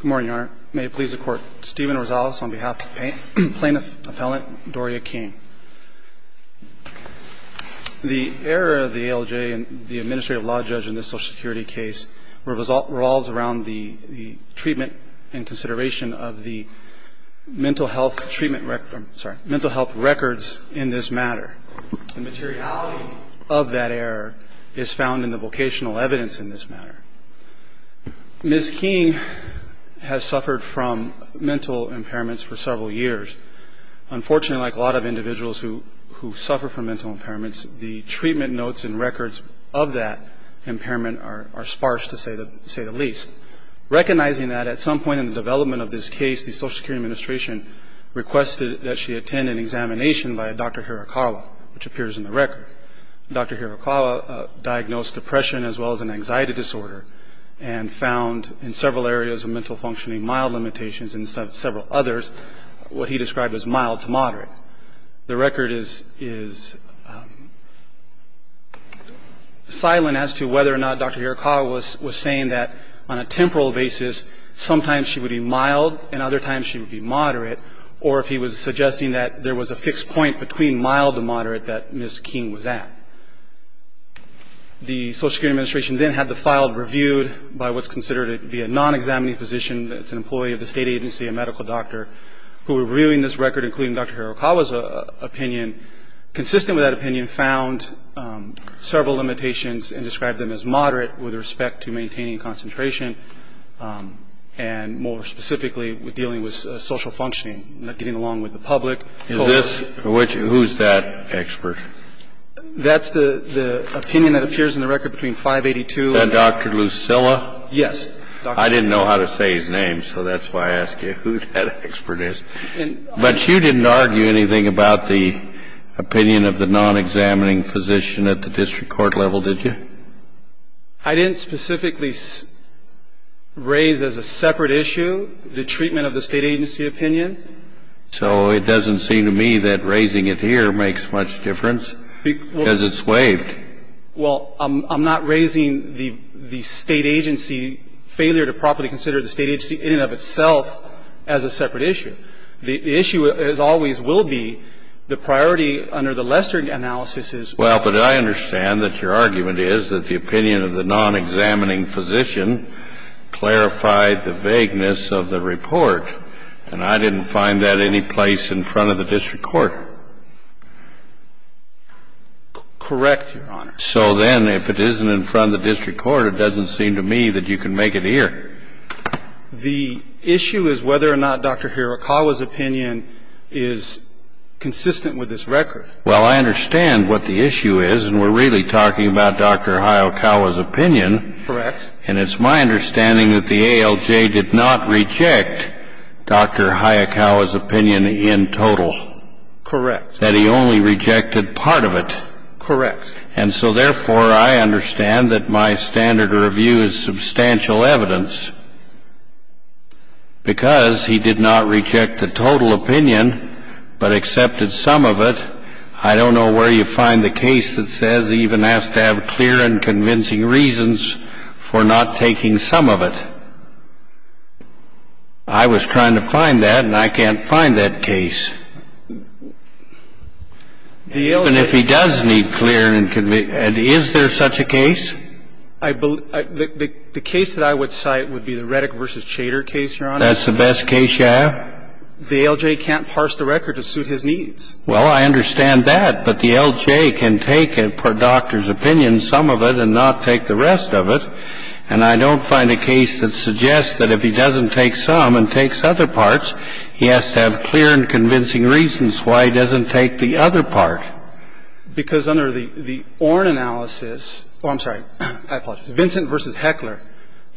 Good morning, Your Honor. May it please the Court, Stephen Rosales on behalf of Plaintiff Appellant Doria King. The error of the ALJ and the Administrative Law Judge in this Social Security case revolves around the treatment and consideration of the mental health records in this matter. The materiality of that error is found in the vocational evidence in this matter. Ms. King has suffered from mental impairments for several years. Unfortunately, like a lot of individuals who suffer from mental impairments, the treatment notes and records of that impairment are sparse, to say the least. Recognizing that, at some point in the development of this case, the Social Security Administration requested that she attend an examination by Dr. Hirakawa, which appears in the record. Dr. Hirakawa diagnosed depression as well as an anxiety disorder and found in several areas of mental functioning mild limitations and several others what he described as mild to moderate. The record is silent as to whether or not Dr. Hirakawa was saying that, on a temporal basis, sometimes she would be mild and other times she would be moderate, or if he was suggesting that there was a fixed point between mild and moderate that Ms. King was at. The Social Security Administration then had the file reviewed by what's considered to be a non-examining physician. It's an employee of the state agency, a medical doctor, who were reviewing this record, including Dr. Hirakawa's opinion. Consistent with that opinion, found several limitations and described them as moderate with respect to maintaining concentration and, more specifically, with dealing with social functioning, not getting along with the public. Is this which — who's that expert? That's the opinion that appears in the record between 582 and — And Dr. Lucilla? Yes. I didn't know how to say his name, so that's why I asked you who that expert is. But you didn't argue anything about the opinion of the non-examining physician at the district court level, did you? I didn't specifically raise as a separate issue the treatment of the state agency opinion. So it doesn't seem to me that raising it here makes much difference, because it's waived. Well, I'm not raising the state agency failure to properly consider the state agency in and of itself as a separate issue. The issue, as always, will be the priority under the Lester analysis is — Well, but I understand that your argument is that the opinion of the non-examining physician clarified the vagueness of the report, and I didn't find that any place in front of the district court. Correct, Your Honor. So then if it isn't in front of the district court, it doesn't seem to me that you can make it here. The issue is whether or not Dr. Hirakawa's opinion is consistent with this record. Well, I understand what the issue is, and we're really talking about Dr. Hirakawa's opinion. Correct. And it's my understanding that the ALJ did not reject Dr. Hirakawa's opinion in total. Correct. That he only rejected part of it. Correct. And so, therefore, I understand that my standard review is substantial evidence. Because he did not reject the total opinion but accepted some of it, I don't know where you find the case that says he even has to have clear and convincing reasons for not taking some of it. I was trying to find that, and I can't find that case. Even if he does need clear and convincing reasons, is there such a case? The case that I would cite would be the Reddick v. Chater case, Your Honor. That's the best case you have? The ALJ can't parse the record to suit his needs. Well, I understand that, but the ALJ can take, per Dr. Hirakawa's opinion, some of it and not take the rest of it. And I don't find a case that suggests that if he doesn't take some and takes other parts, he has to have clear and convincing reasons why he doesn't take the other part. Because under the Orn analysis — oh, I'm sorry. I apologize. Vincent v. Heckler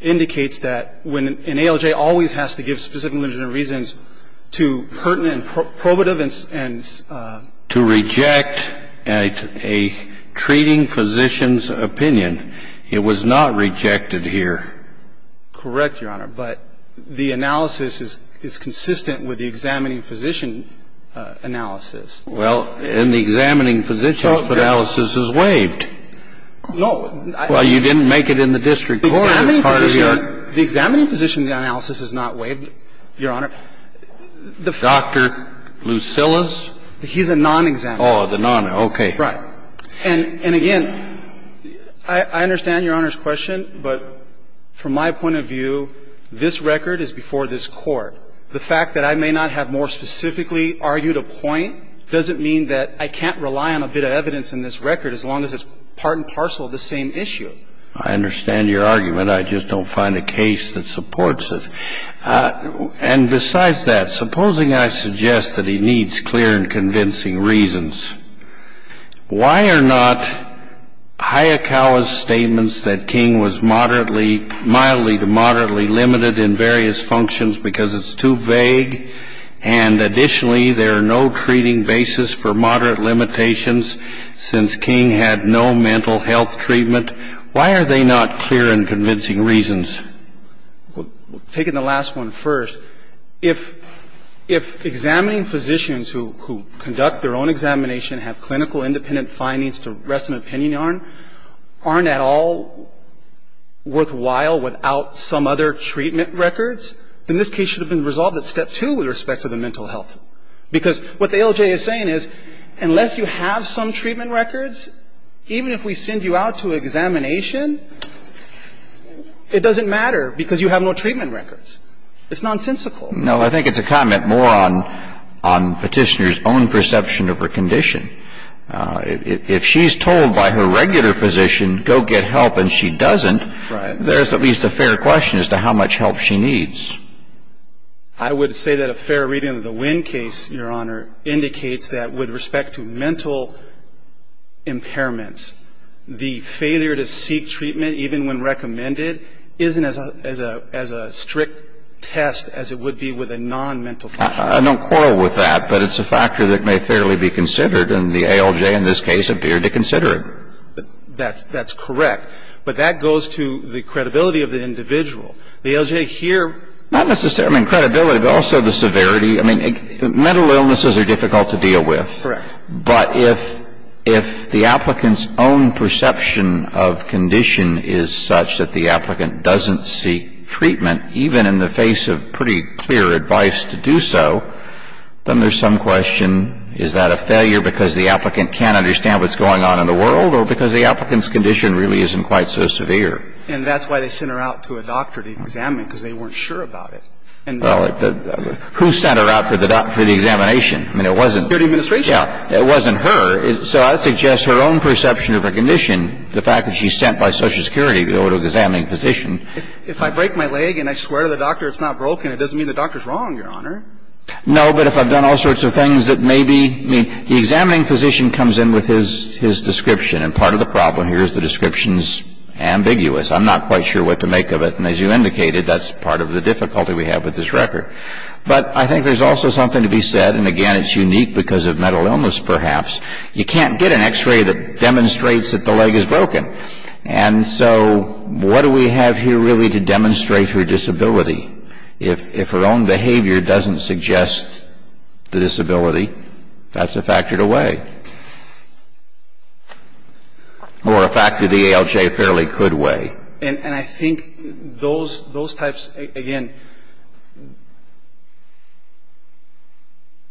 indicates that an ALJ always has to give specific legitimate reasons to pertinent and probative and — To reject a treating physician's opinion. It was not rejected here. Correct, Your Honor. But the analysis is consistent with the examining physician analysis. Well, in the examining physician's analysis is waived. No. Well, you didn't make it in the district court. The examining physician analysis is not waived, Your Honor. Dr. Lucillus? He's a non-examiner. Oh, the non-examiner. Right. And again, I understand Your Honor's question, but from my point of view, this record is before this Court. The fact that I may not have more specifically argued a point doesn't mean that I can't rely on a bit of evidence in this record as long as it's part and parcel of the same issue. I understand your argument. I just don't find a case that supports it. And besides that, supposing I suggest that he needs clear and convincing reasons, why are not Hayakawa's statements that King was moderately, mildly to moderately limited in various functions because it's too vague, and additionally, there are no treating basis for moderate limitations since King had no mental health treatment, why are they not clear and convincing reasons? Well, taking the last one first, if examining physicians who conduct their own examination have clinical independent findings to rest an opinion on aren't at all worthwhile without some other treatment records, then this case should have been resolved at step two with respect to the mental health. Because what the ALJ is saying is unless you have some treatment records, even if we send you out to examination, it doesn't matter because you have no treatment records. It's nonsensical. No, I think it's a comment more on Petitioner's own perception of her condition. If she's told by her regular physician, go get help, and she doesn't, there's at least a fair question as to how much help she needs. I would say that a fair reading of the Winn case, Your Honor, indicates that with respect to mental impairments, the failure to seek treatment even when recommended isn't as a strict test as it would be with a nonmental condition. I don't quarrel with that. But it's a factor that may fairly be considered. And the ALJ in this case appeared to consider it. That's correct. But that goes to the credibility of the individual. The ALJ here. Not necessarily credibility, but also the severity. I mean, mental illnesses are difficult to deal with. Correct. But if the applicant's own perception of condition is such that the applicant doesn't seek treatment, even in the face of pretty clear advice to do so, then there's some question, is that a failure because the applicant can't understand what's going on in the world or because the applicant's condition really isn't quite so severe? And that's why they sent her out to a doctor to examine because they weren't sure about Well, who sent her out for the examination? I mean, it wasn't her. So I suggest her own perception of her condition, the fact that she's sent by Social Security to go to an examining physician. If I break my leg and I swear to the doctor it's not broken, it doesn't mean the doctor's wrong, Your Honor. No, but if I've done all sorts of things that may be, I mean, the examining physician comes in with his description. And part of the problem here is the description's ambiguous. I'm not quite sure what to make of it. And as you indicated, that's part of the difficulty we have with this record. But I think there's also something to be said, and again, it's unique because of mental illness, perhaps. You can't get an X-ray that demonstrates that the leg is broken. And so what do we have here really to demonstrate her disability? If her own behavior doesn't suggest the disability, that's a factor to weigh. Or a factor the ALJ fairly could weigh. And I think those types, again,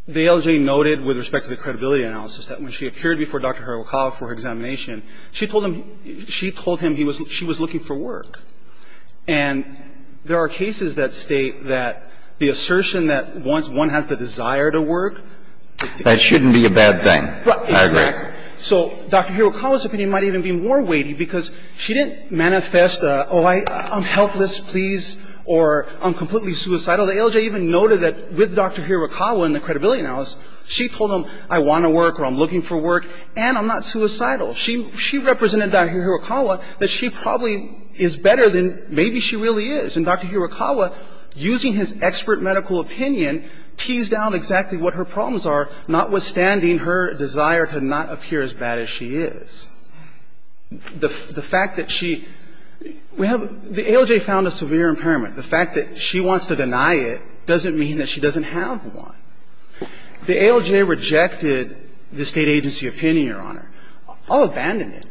the ALJ noted with respect to the credibility analysis that when she appeared before Dr. Hirokawa for her examination, she told him she was looking for work. And there are cases that state that the assertion that one has the desire to work That shouldn't be a bad thing. Exactly. So Dr. Hirokawa's opinion might even be more weighty because she didn't manifest a, oh, I'm helpless, please, or I'm completely suicidal. The ALJ even noted that with Dr. Hirokawa in the credibility analysis, she told him I want to work or I'm looking for work and I'm not suicidal. She represented Dr. Hirokawa that she probably is better than maybe she really is. And Dr. Hirokawa, using his expert medical opinion, teased out exactly what her The fact that she, we have, the ALJ found a severe impairment. The fact that she wants to deny it doesn't mean that she doesn't have one. The ALJ rejected the State agency opinion, Your Honor. I'll abandon it.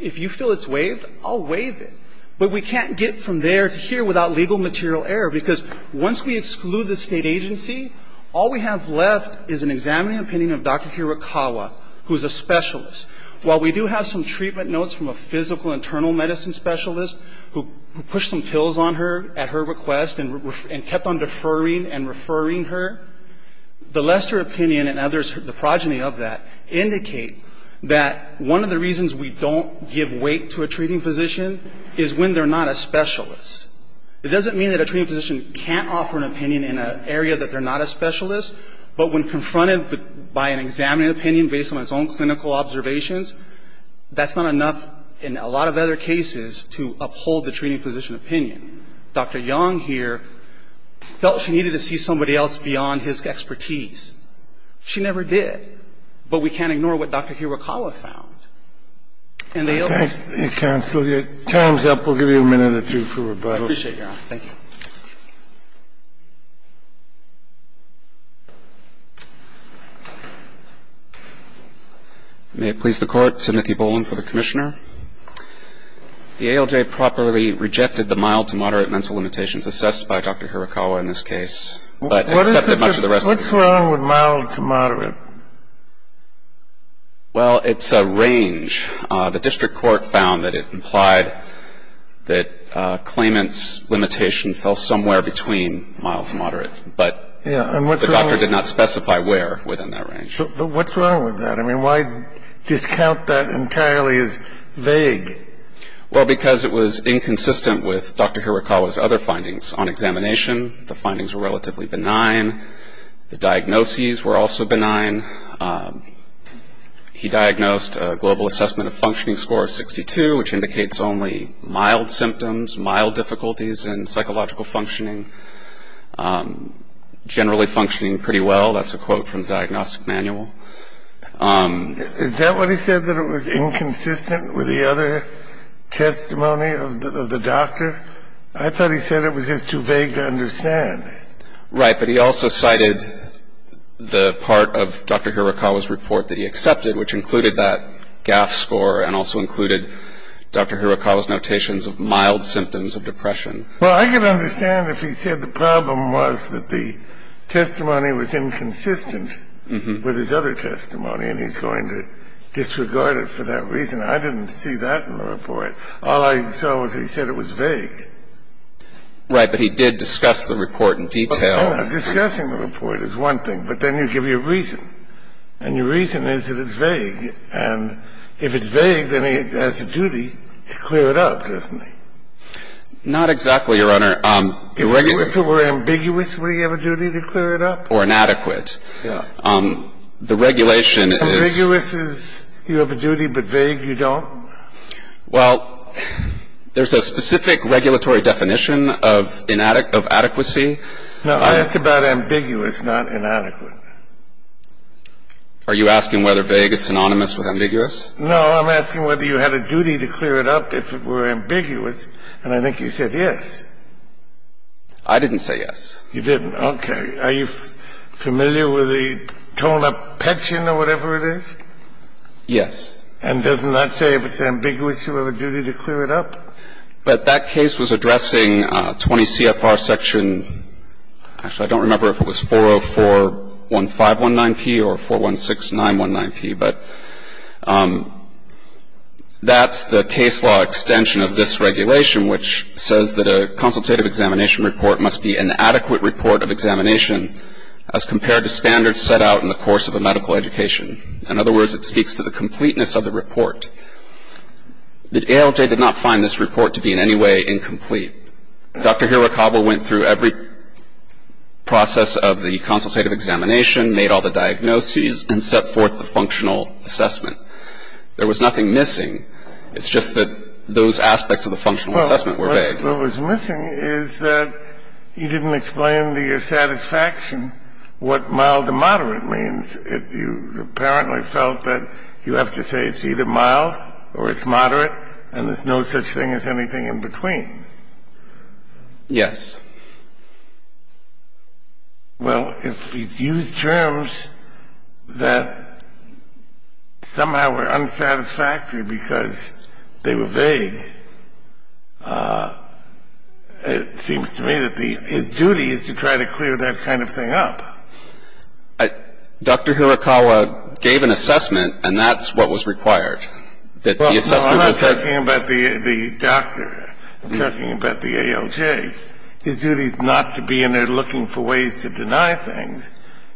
If you feel it's waived, I'll waive it. But we can't get from there to here without legal material error, because once we exclude the State agency, all we have left is an examining opinion of Dr. Hirokawa, who's a specialist. While we do have some treatment notes from a physical internal medicine specialist who pushed some pills on her at her request and kept on deferring and referring her, the Lester opinion and others, the progeny of that, indicate that one of the reasons we don't give weight to a treating physician is when they're not a specialist. It doesn't mean that a treating physician can't offer an opinion in an area that they're not a specialist. But when confronted by an examining opinion based on its own clinical observations, that's not enough in a lot of other cases to uphold the treating physician opinion. Dr. Young here felt she needed to see somebody else beyond his expertise. She never did. But we can't ignore what Dr. Hirokawa found. And the ALJ ---- Thank you, counsel. Your time's up. We'll give you a minute or two for rebuttal. I appreciate your honor. Thank you. May it please the Court. Timothy Boland for the Commissioner. The ALJ properly rejected the mild to moderate mental limitations assessed by Dr. Hirokawa in this case, but accepted much of the rest of the treatment. What's wrong with mild to moderate? Well, it's a range. The district court found that it implied that claimant's limitation fell somewhere between mild to moderate. But the doctor did not specify where within that range. But what's wrong with that? I mean, why discount that entirely as vague? Well, because it was inconsistent with Dr. Hirokawa's other findings. On examination, the findings were relatively benign. The diagnoses were also benign. He diagnosed a global assessment of functioning score of 62, which indicates only mild symptoms, mild difficulties in psychological functioning, generally functioning pretty well. That's a quote from the diagnostic manual. Is that what he said, that it was inconsistent with the other testimony of the doctor? I thought he said it was just too vague to understand. Right, but he also cited the part of Dr. Hirokawa's report that he accepted, which included that GAF score and also included Dr. Hirokawa's notations of mild symptoms of depression. Well, I could understand if he said the problem was that the testimony was inconsistent with his other testimony, and he's going to disregard it for that reason. I didn't see that in the report. All I saw was he said it was vague. Right, but he did discuss the report in detail. Discussing the report is one thing, but then you give your reason. And your reason is that it's vague. And if it's vague, then he has a duty to clear it up, doesn't he? Not exactly, Your Honor. If it were ambiguous, would he have a duty to clear it up? Or inadequate. Yeah. The regulation is — Ambiguous is you have a duty, but vague you don't? Well, there's a specific regulatory definition of inadequacy. Now, I asked about ambiguous, not inadequate. Are you asking whether vague is synonymous with ambiguous? No. I'm asking whether you had a duty to clear it up if it were ambiguous, and I think you said yes. I didn't say yes. You didn't. Okay. Are you familiar with the tone-up pension or whatever it is? Yes. And doesn't that say if it's ambiguous, you have a duty to clear it up? But that case was addressing 20 CFR section — actually, I don't remember if it was 4041519P or 416919P, but that's the case law extension of this regulation, which says that a consultative examination report must be an adequate report of examination as compared to standards set out in the course of a medical education. In other words, it speaks to the completeness of the report. The ALJ did not find this report to be in any way incomplete. Dr. Hirakawa went through every process of the consultative examination, made all the diagnoses, and set forth the functional assessment. There was nothing missing. It's just that those aspects of the functional assessment were vague. Well, what was missing is that you didn't explain to your satisfaction what mild to vague was. And you apparently felt that you have to say it's either mild or it's moderate, and there's no such thing as anything in between. Yes. Well, if he used terms that somehow were unsatisfactory because they were vague, it seems to me that his duty is to try to clear that kind of thing up. Dr. Hirakawa gave an assessment, and that's what was required, that the assessment Well, I'm not talking about the doctor. I'm talking about the ALJ. His duty is not to be in there looking for ways to deny things.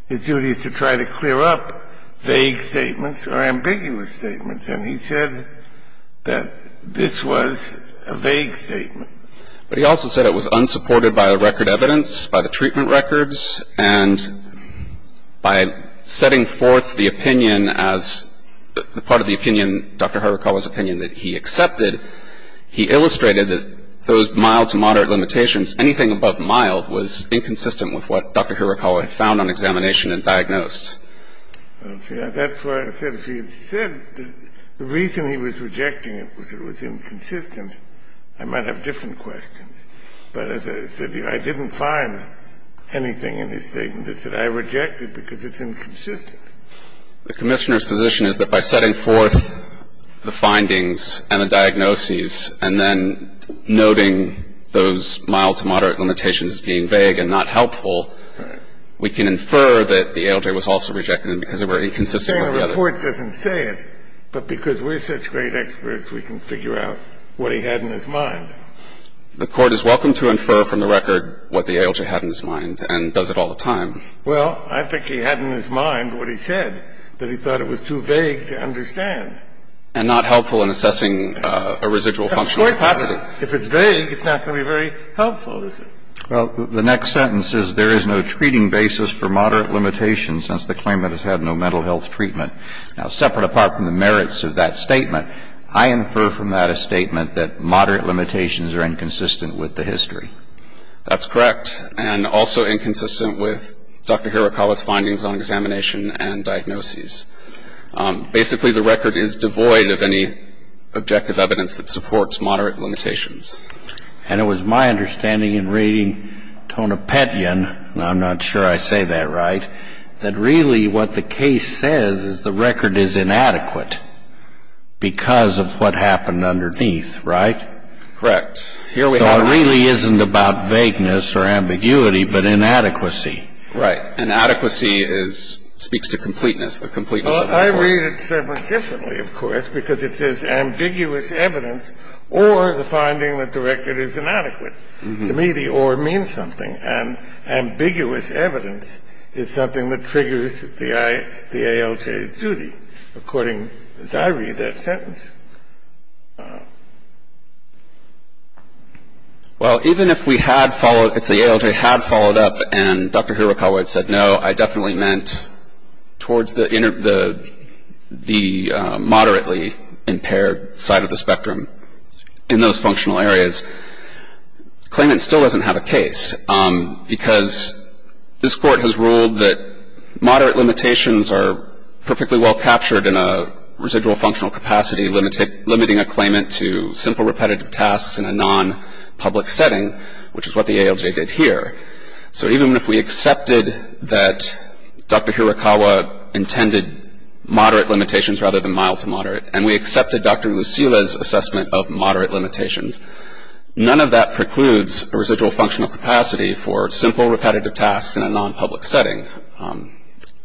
His duty is to try to clear up vague statements or ambiguous statements. And he said that this was a vague statement. But he also said it was unsupported by the record evidence, by the treatment records, and by setting forth the opinion as part of the opinion, Dr. Hirakawa's opinion, that he accepted, he illustrated that those mild to moderate limitations, anything above mild, was inconsistent with what Dr. Hirakawa had found on examination and diagnosed. That's why I said if he had said the reason he was rejecting it was it was inconsistent, I might have different questions. But as I said to you, I didn't find anything in his statement that said I reject it because it's inconsistent. The Commissioner's position is that by setting forth the findings and the diagnoses and then noting those mild to moderate limitations as being vague and not helpful, we can infer that the ALJ was also rejecting it because it were inconsistent with the other. The Court doesn't say it, but because we're such great experts, we can figure out what he had in his mind. The Court is welcome to infer from the record what the ALJ had in his mind and does it all the time. Well, I think he had in his mind what he said, that he thought it was too vague to understand. And not helpful in assessing a residual functional capacity. If it's vague, it's not going to be very helpful, is it? Well, the next sentence is, there is no treating basis for moderate limitations since the claimant has had no mental health treatment. Now, separate apart from the merits of that statement, I infer from that a statement that moderate limitations are inconsistent with the history. That's correct, and also inconsistent with Dr. Hirakawa's findings on examination and diagnoses. Basically, the record is devoid of any objective evidence that supports moderate limitations. And it was my understanding in reading Tonopetian, and I'm not sure I say that right, that really what the case says is the record is inadequate because of what happened underneath, right? Correct. So it really isn't about vagueness or ambiguity, but inadequacy. Right. Inadequacy speaks to completeness, the completeness of the report. Well, I read it somewhat differently, of course, because it says ambiguous evidence or the finding that the record is inadequate. To me, the or means something. And ambiguous evidence is something that triggers the ALJ's duty, according, as I read that sentence. Well, even if we had followed, if the ALJ had followed up and Dr. Hirakawa had said no, I definitely meant towards the moderately impaired side of the spectrum in those functional areas. Claimant still doesn't have a case because this Court has ruled that moderate limitations are perfectly well captured in a residual functional capacity, limiting a claimant to simple repetitive tasks in a non-public setting, which is what the ALJ did here. So even if we accepted that Dr. Hirakawa intended moderate limitations rather than mild to moderate, and we accepted Dr. Lucila's assessment of moderate limitations, none of that precludes a residual functional capacity for simple repetitive tasks in a non-public setting.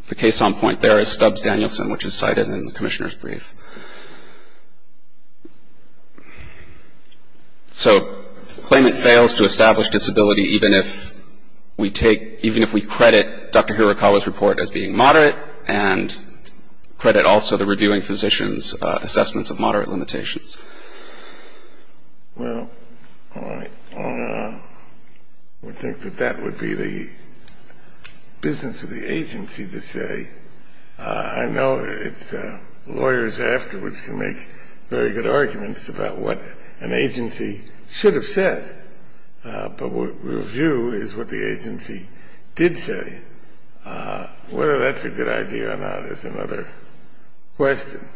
The case on point there is Stubbs-Danielson, which is cited in the Commissioner's brief. So claimant fails to establish disability even if we take, even if we credit Dr. Hirakawa's report as being moderate and credit also the reviewing physician's assessments of moderate limitations. Well, I would think that that would be the business of the agency to say, I know lawyers afterwards can make very good arguments about what an agency should have said, but what we view is what the agency did say. Whether that's a good idea or not is another question,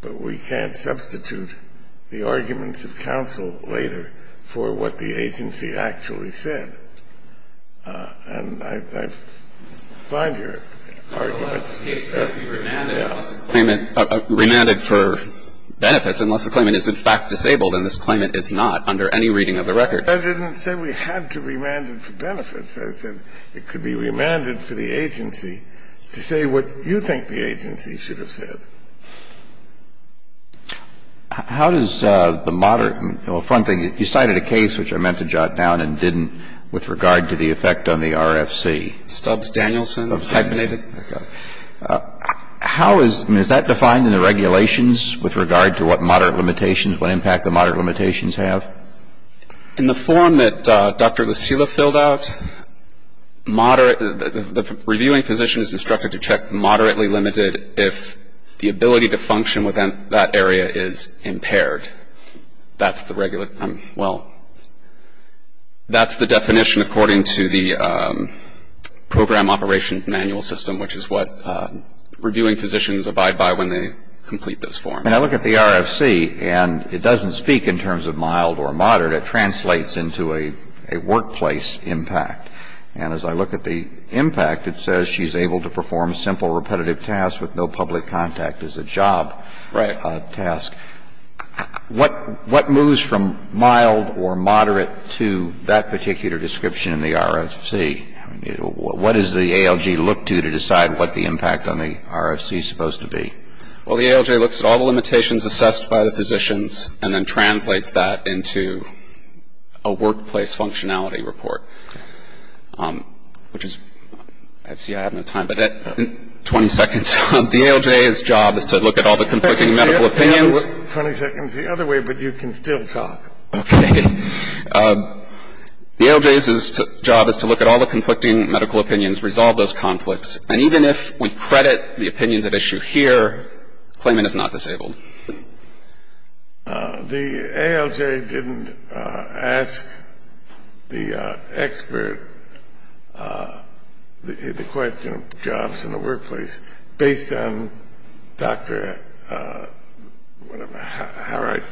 but we can't substitute the arguments of counsel later for what the agency actually said. And I find your arguments. The case could be remanded for benefits unless the claimant is in fact disabled, and this claimant is not under any reading of the record. I didn't say we had to remand it for benefits. I said it could be remanded for the agency to say what you think the agency should have said. How does the moderate, well, a fun thing, you cited a case which I meant to jot down and didn't with regard to the effect on the RFC. Stubbs-Danielson. Okay. How is, I mean, is that defined in the regulations with regard to what moderate limitations, what impact the moderate limitations have? In the form that Dr. Lucila filled out, moderate, the reviewing physician is instructed to check moderately limited if the ability to function within that area is impaired. That's the regular, well, that's the definition according to the program operation manual system, which is what reviewing physicians abide by when they complete those forms. And I look at the RFC, and it doesn't speak in terms of mild or moderate. It translates into a workplace impact. And as I look at the impact, it says she's able to perform simple repetitive tasks with no public contact as a job. Right. A task. What moves from mild or moderate to that particular description in the RFC? What does the ALJ look to to decide what the impact on the RFC is supposed to be? Well, the ALJ looks at all the limitations assessed by the physicians and then translates that into a workplace functionality report, which is, I see I have no time, but 20 seconds. The ALJ's job is to look at all the conflicting medical opinions. 20 seconds the other way, but you can still talk. Okay. The ALJ's job is to look at all the conflicting medical opinions, resolve those conflicts. And even if we credit the opinions at issue here, claimant is not disabled. The ALJ didn't ask the expert the question of jobs in the workplace based on Dr. Harakawa's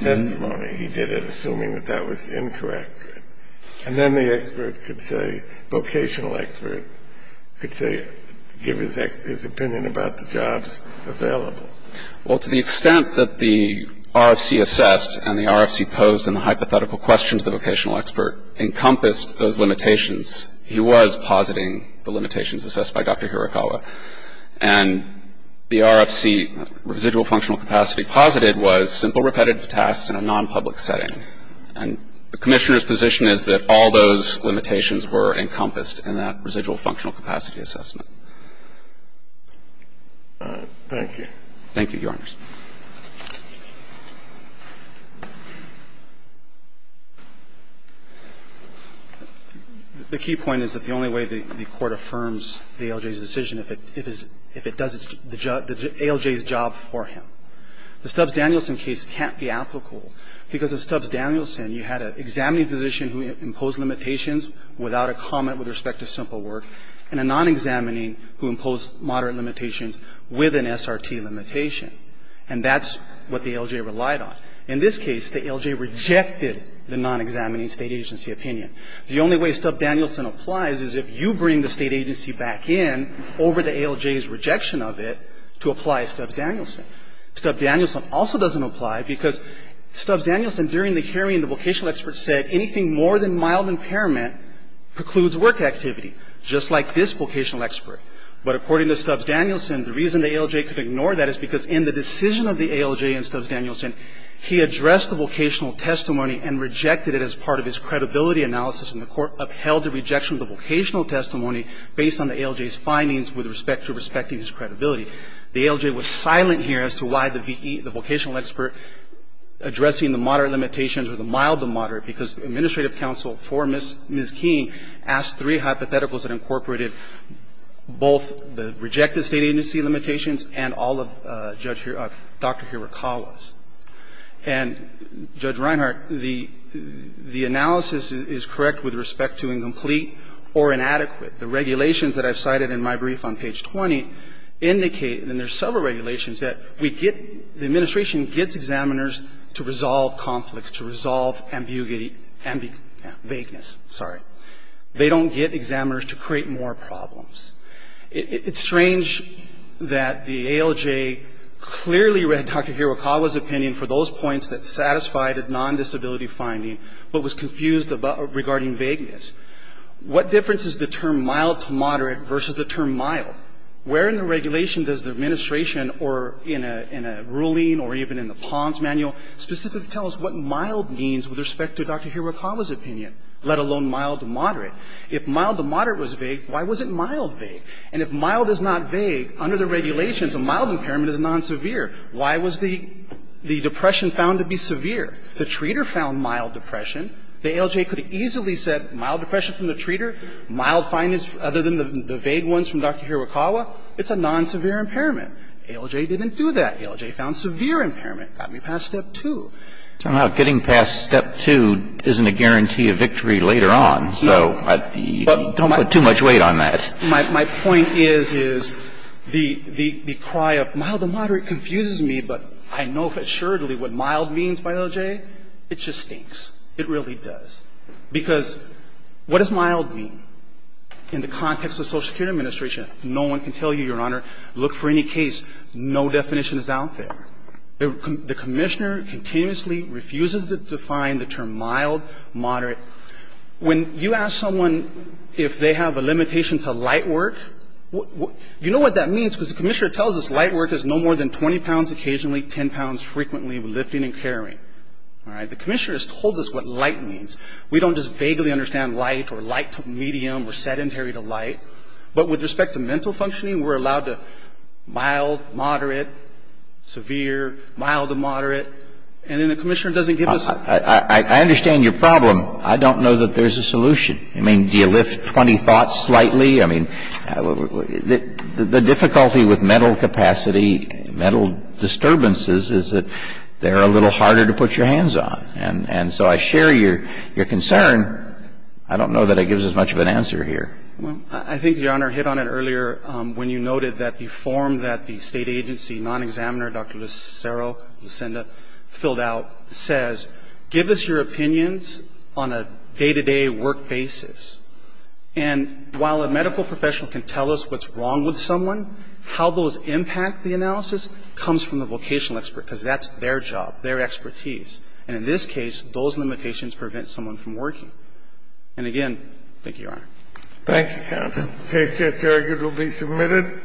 testimony. He did it assuming that that was incorrect. And then the expert could say, vocational expert, could say, give his opinion about the jobs available. Well, to the extent that the RFC assessed and the RFC posed in the hypothetical question to the vocational expert encompassed those limitations, he was positing the limitations assessed by Dr. Harakawa. And the RFC, residual functional capacity, posited was simple repetitive tasks in a non-public setting. And the Commissioner's position is that all those limitations were encompassed in that residual functional capacity assessment. Thank you. Thank you, Your Honor. The key point is that the only way the Court affirms the ALJ's decision if it does its job, the ALJ's job for him. The Stubbs-Danielson case can't be applicable because of Stubbs-Danielson, you had an examining physician who imposed limitations without a comment with respect to simple work and a non-examining who imposed moderate limitations with an SRT limitation. And that's what the ALJ relied on. In this case, the ALJ rejected the non-examining State agency opinion. The only way Stubbs-Danielson applies is if you bring the State agency back in over the ALJ's rejection of it to apply Stubbs-Danielson. Stubbs-Danielson also doesn't apply because Stubbs-Danielson, during the hearing, the vocational expert said anything more than mild impairment precludes work activity, just like this vocational expert. But according to Stubbs-Danielson, the reason the ALJ could ignore that is because in the decision of the ALJ and Stubbs-Danielson, he addressed the vocational testimony and rejected it as part of his credibility analysis. And the Court upheld the rejection of the vocational testimony based on the ALJ's findings with respect to respecting his credibility. The ALJ was silent here as to why the vocational expert addressing the moderate limitations or the mild to moderate, because the administrative counsel for Ms. King asked three hypotheticals that incorporated both the rejected State agency limitations and all of Judge Dr. Hirakawa's. And, Judge Reinhart, the analysis is correct with respect to incomplete or inadequate. The regulations that I've cited in my brief on page 20 indicate, and there are several regulations, that we get, the administration gets examiners to resolve conflicts, to resolve ambiguity, vagueness. Sorry. They don't get examiners to create more problems. It's strange that the ALJ clearly read Dr. Hirakawa's opinion for those points that satisfied a nondisability finding, but was confused regarding vagueness. What difference is the term mild to moderate versus the term mild? Where in the regulation does the administration or in a ruling or even in the PONS manual specifically tell us what mild means with respect to Dr. Hirakawa's opinion, let alone mild to moderate? If mild to moderate was vague, why wasn't mild vague? And if mild is not vague, under the regulations, a mild impairment is nonsevere. Why was the depression found to be severe? The treater found mild depression. The ALJ could have easily said mild depression from the treater, mild findings other than the vague ones from Dr. Hirakawa, it's a nonsevere impairment. ALJ didn't do that. ALJ found severe impairment. Got me past step two. Kennedy. Somehow getting past step two isn't a guarantee of victory later on, so don't put too much weight on that. My point is, is the cry of mild to moderate confuses me, but I know assuredly what mild means by ALJ. It just stinks. It really does. Because what does mild mean? In the context of Social Security Administration, no one can tell you, Your Honor, look for any case. No definition is out there. The commissioner continuously refuses to define the term mild, moderate. When you ask someone if they have a limitation to light work, you know what that means, because the commissioner tells us light work is no more than 20 pounds occasionally, 10 pounds frequently, lifting and carrying. All right? The commissioner has told us what light means. We don't just vaguely understand light or light to medium or sedentary to light. But with respect to mental functioning, we're allowed to mild, moderate, severe, mild to moderate, and then the commissioner doesn't give us the answer. I understand your problem. I don't know that there's a solution. I mean, do you lift 20 thoughts slightly? I mean, the difficulty with mental capacity, mental disturbances, is that they're a little harder to put your hands on. And so I share your concern. I don't know that it gives as much of an answer here. Well, I think, Your Honor, hit on it earlier when you noted that the form that the State Agency non-examiner, Dr. Lucero, Lucinda, filled out says give us your opinions on a day-to-day work basis. And while a medical professional can tell us what's wrong with someone, how those And in this case, those limitations prevent someone from working. And again, thank you, Your Honor. Thank you, counsel. The case here, Your Honor, will be submitted.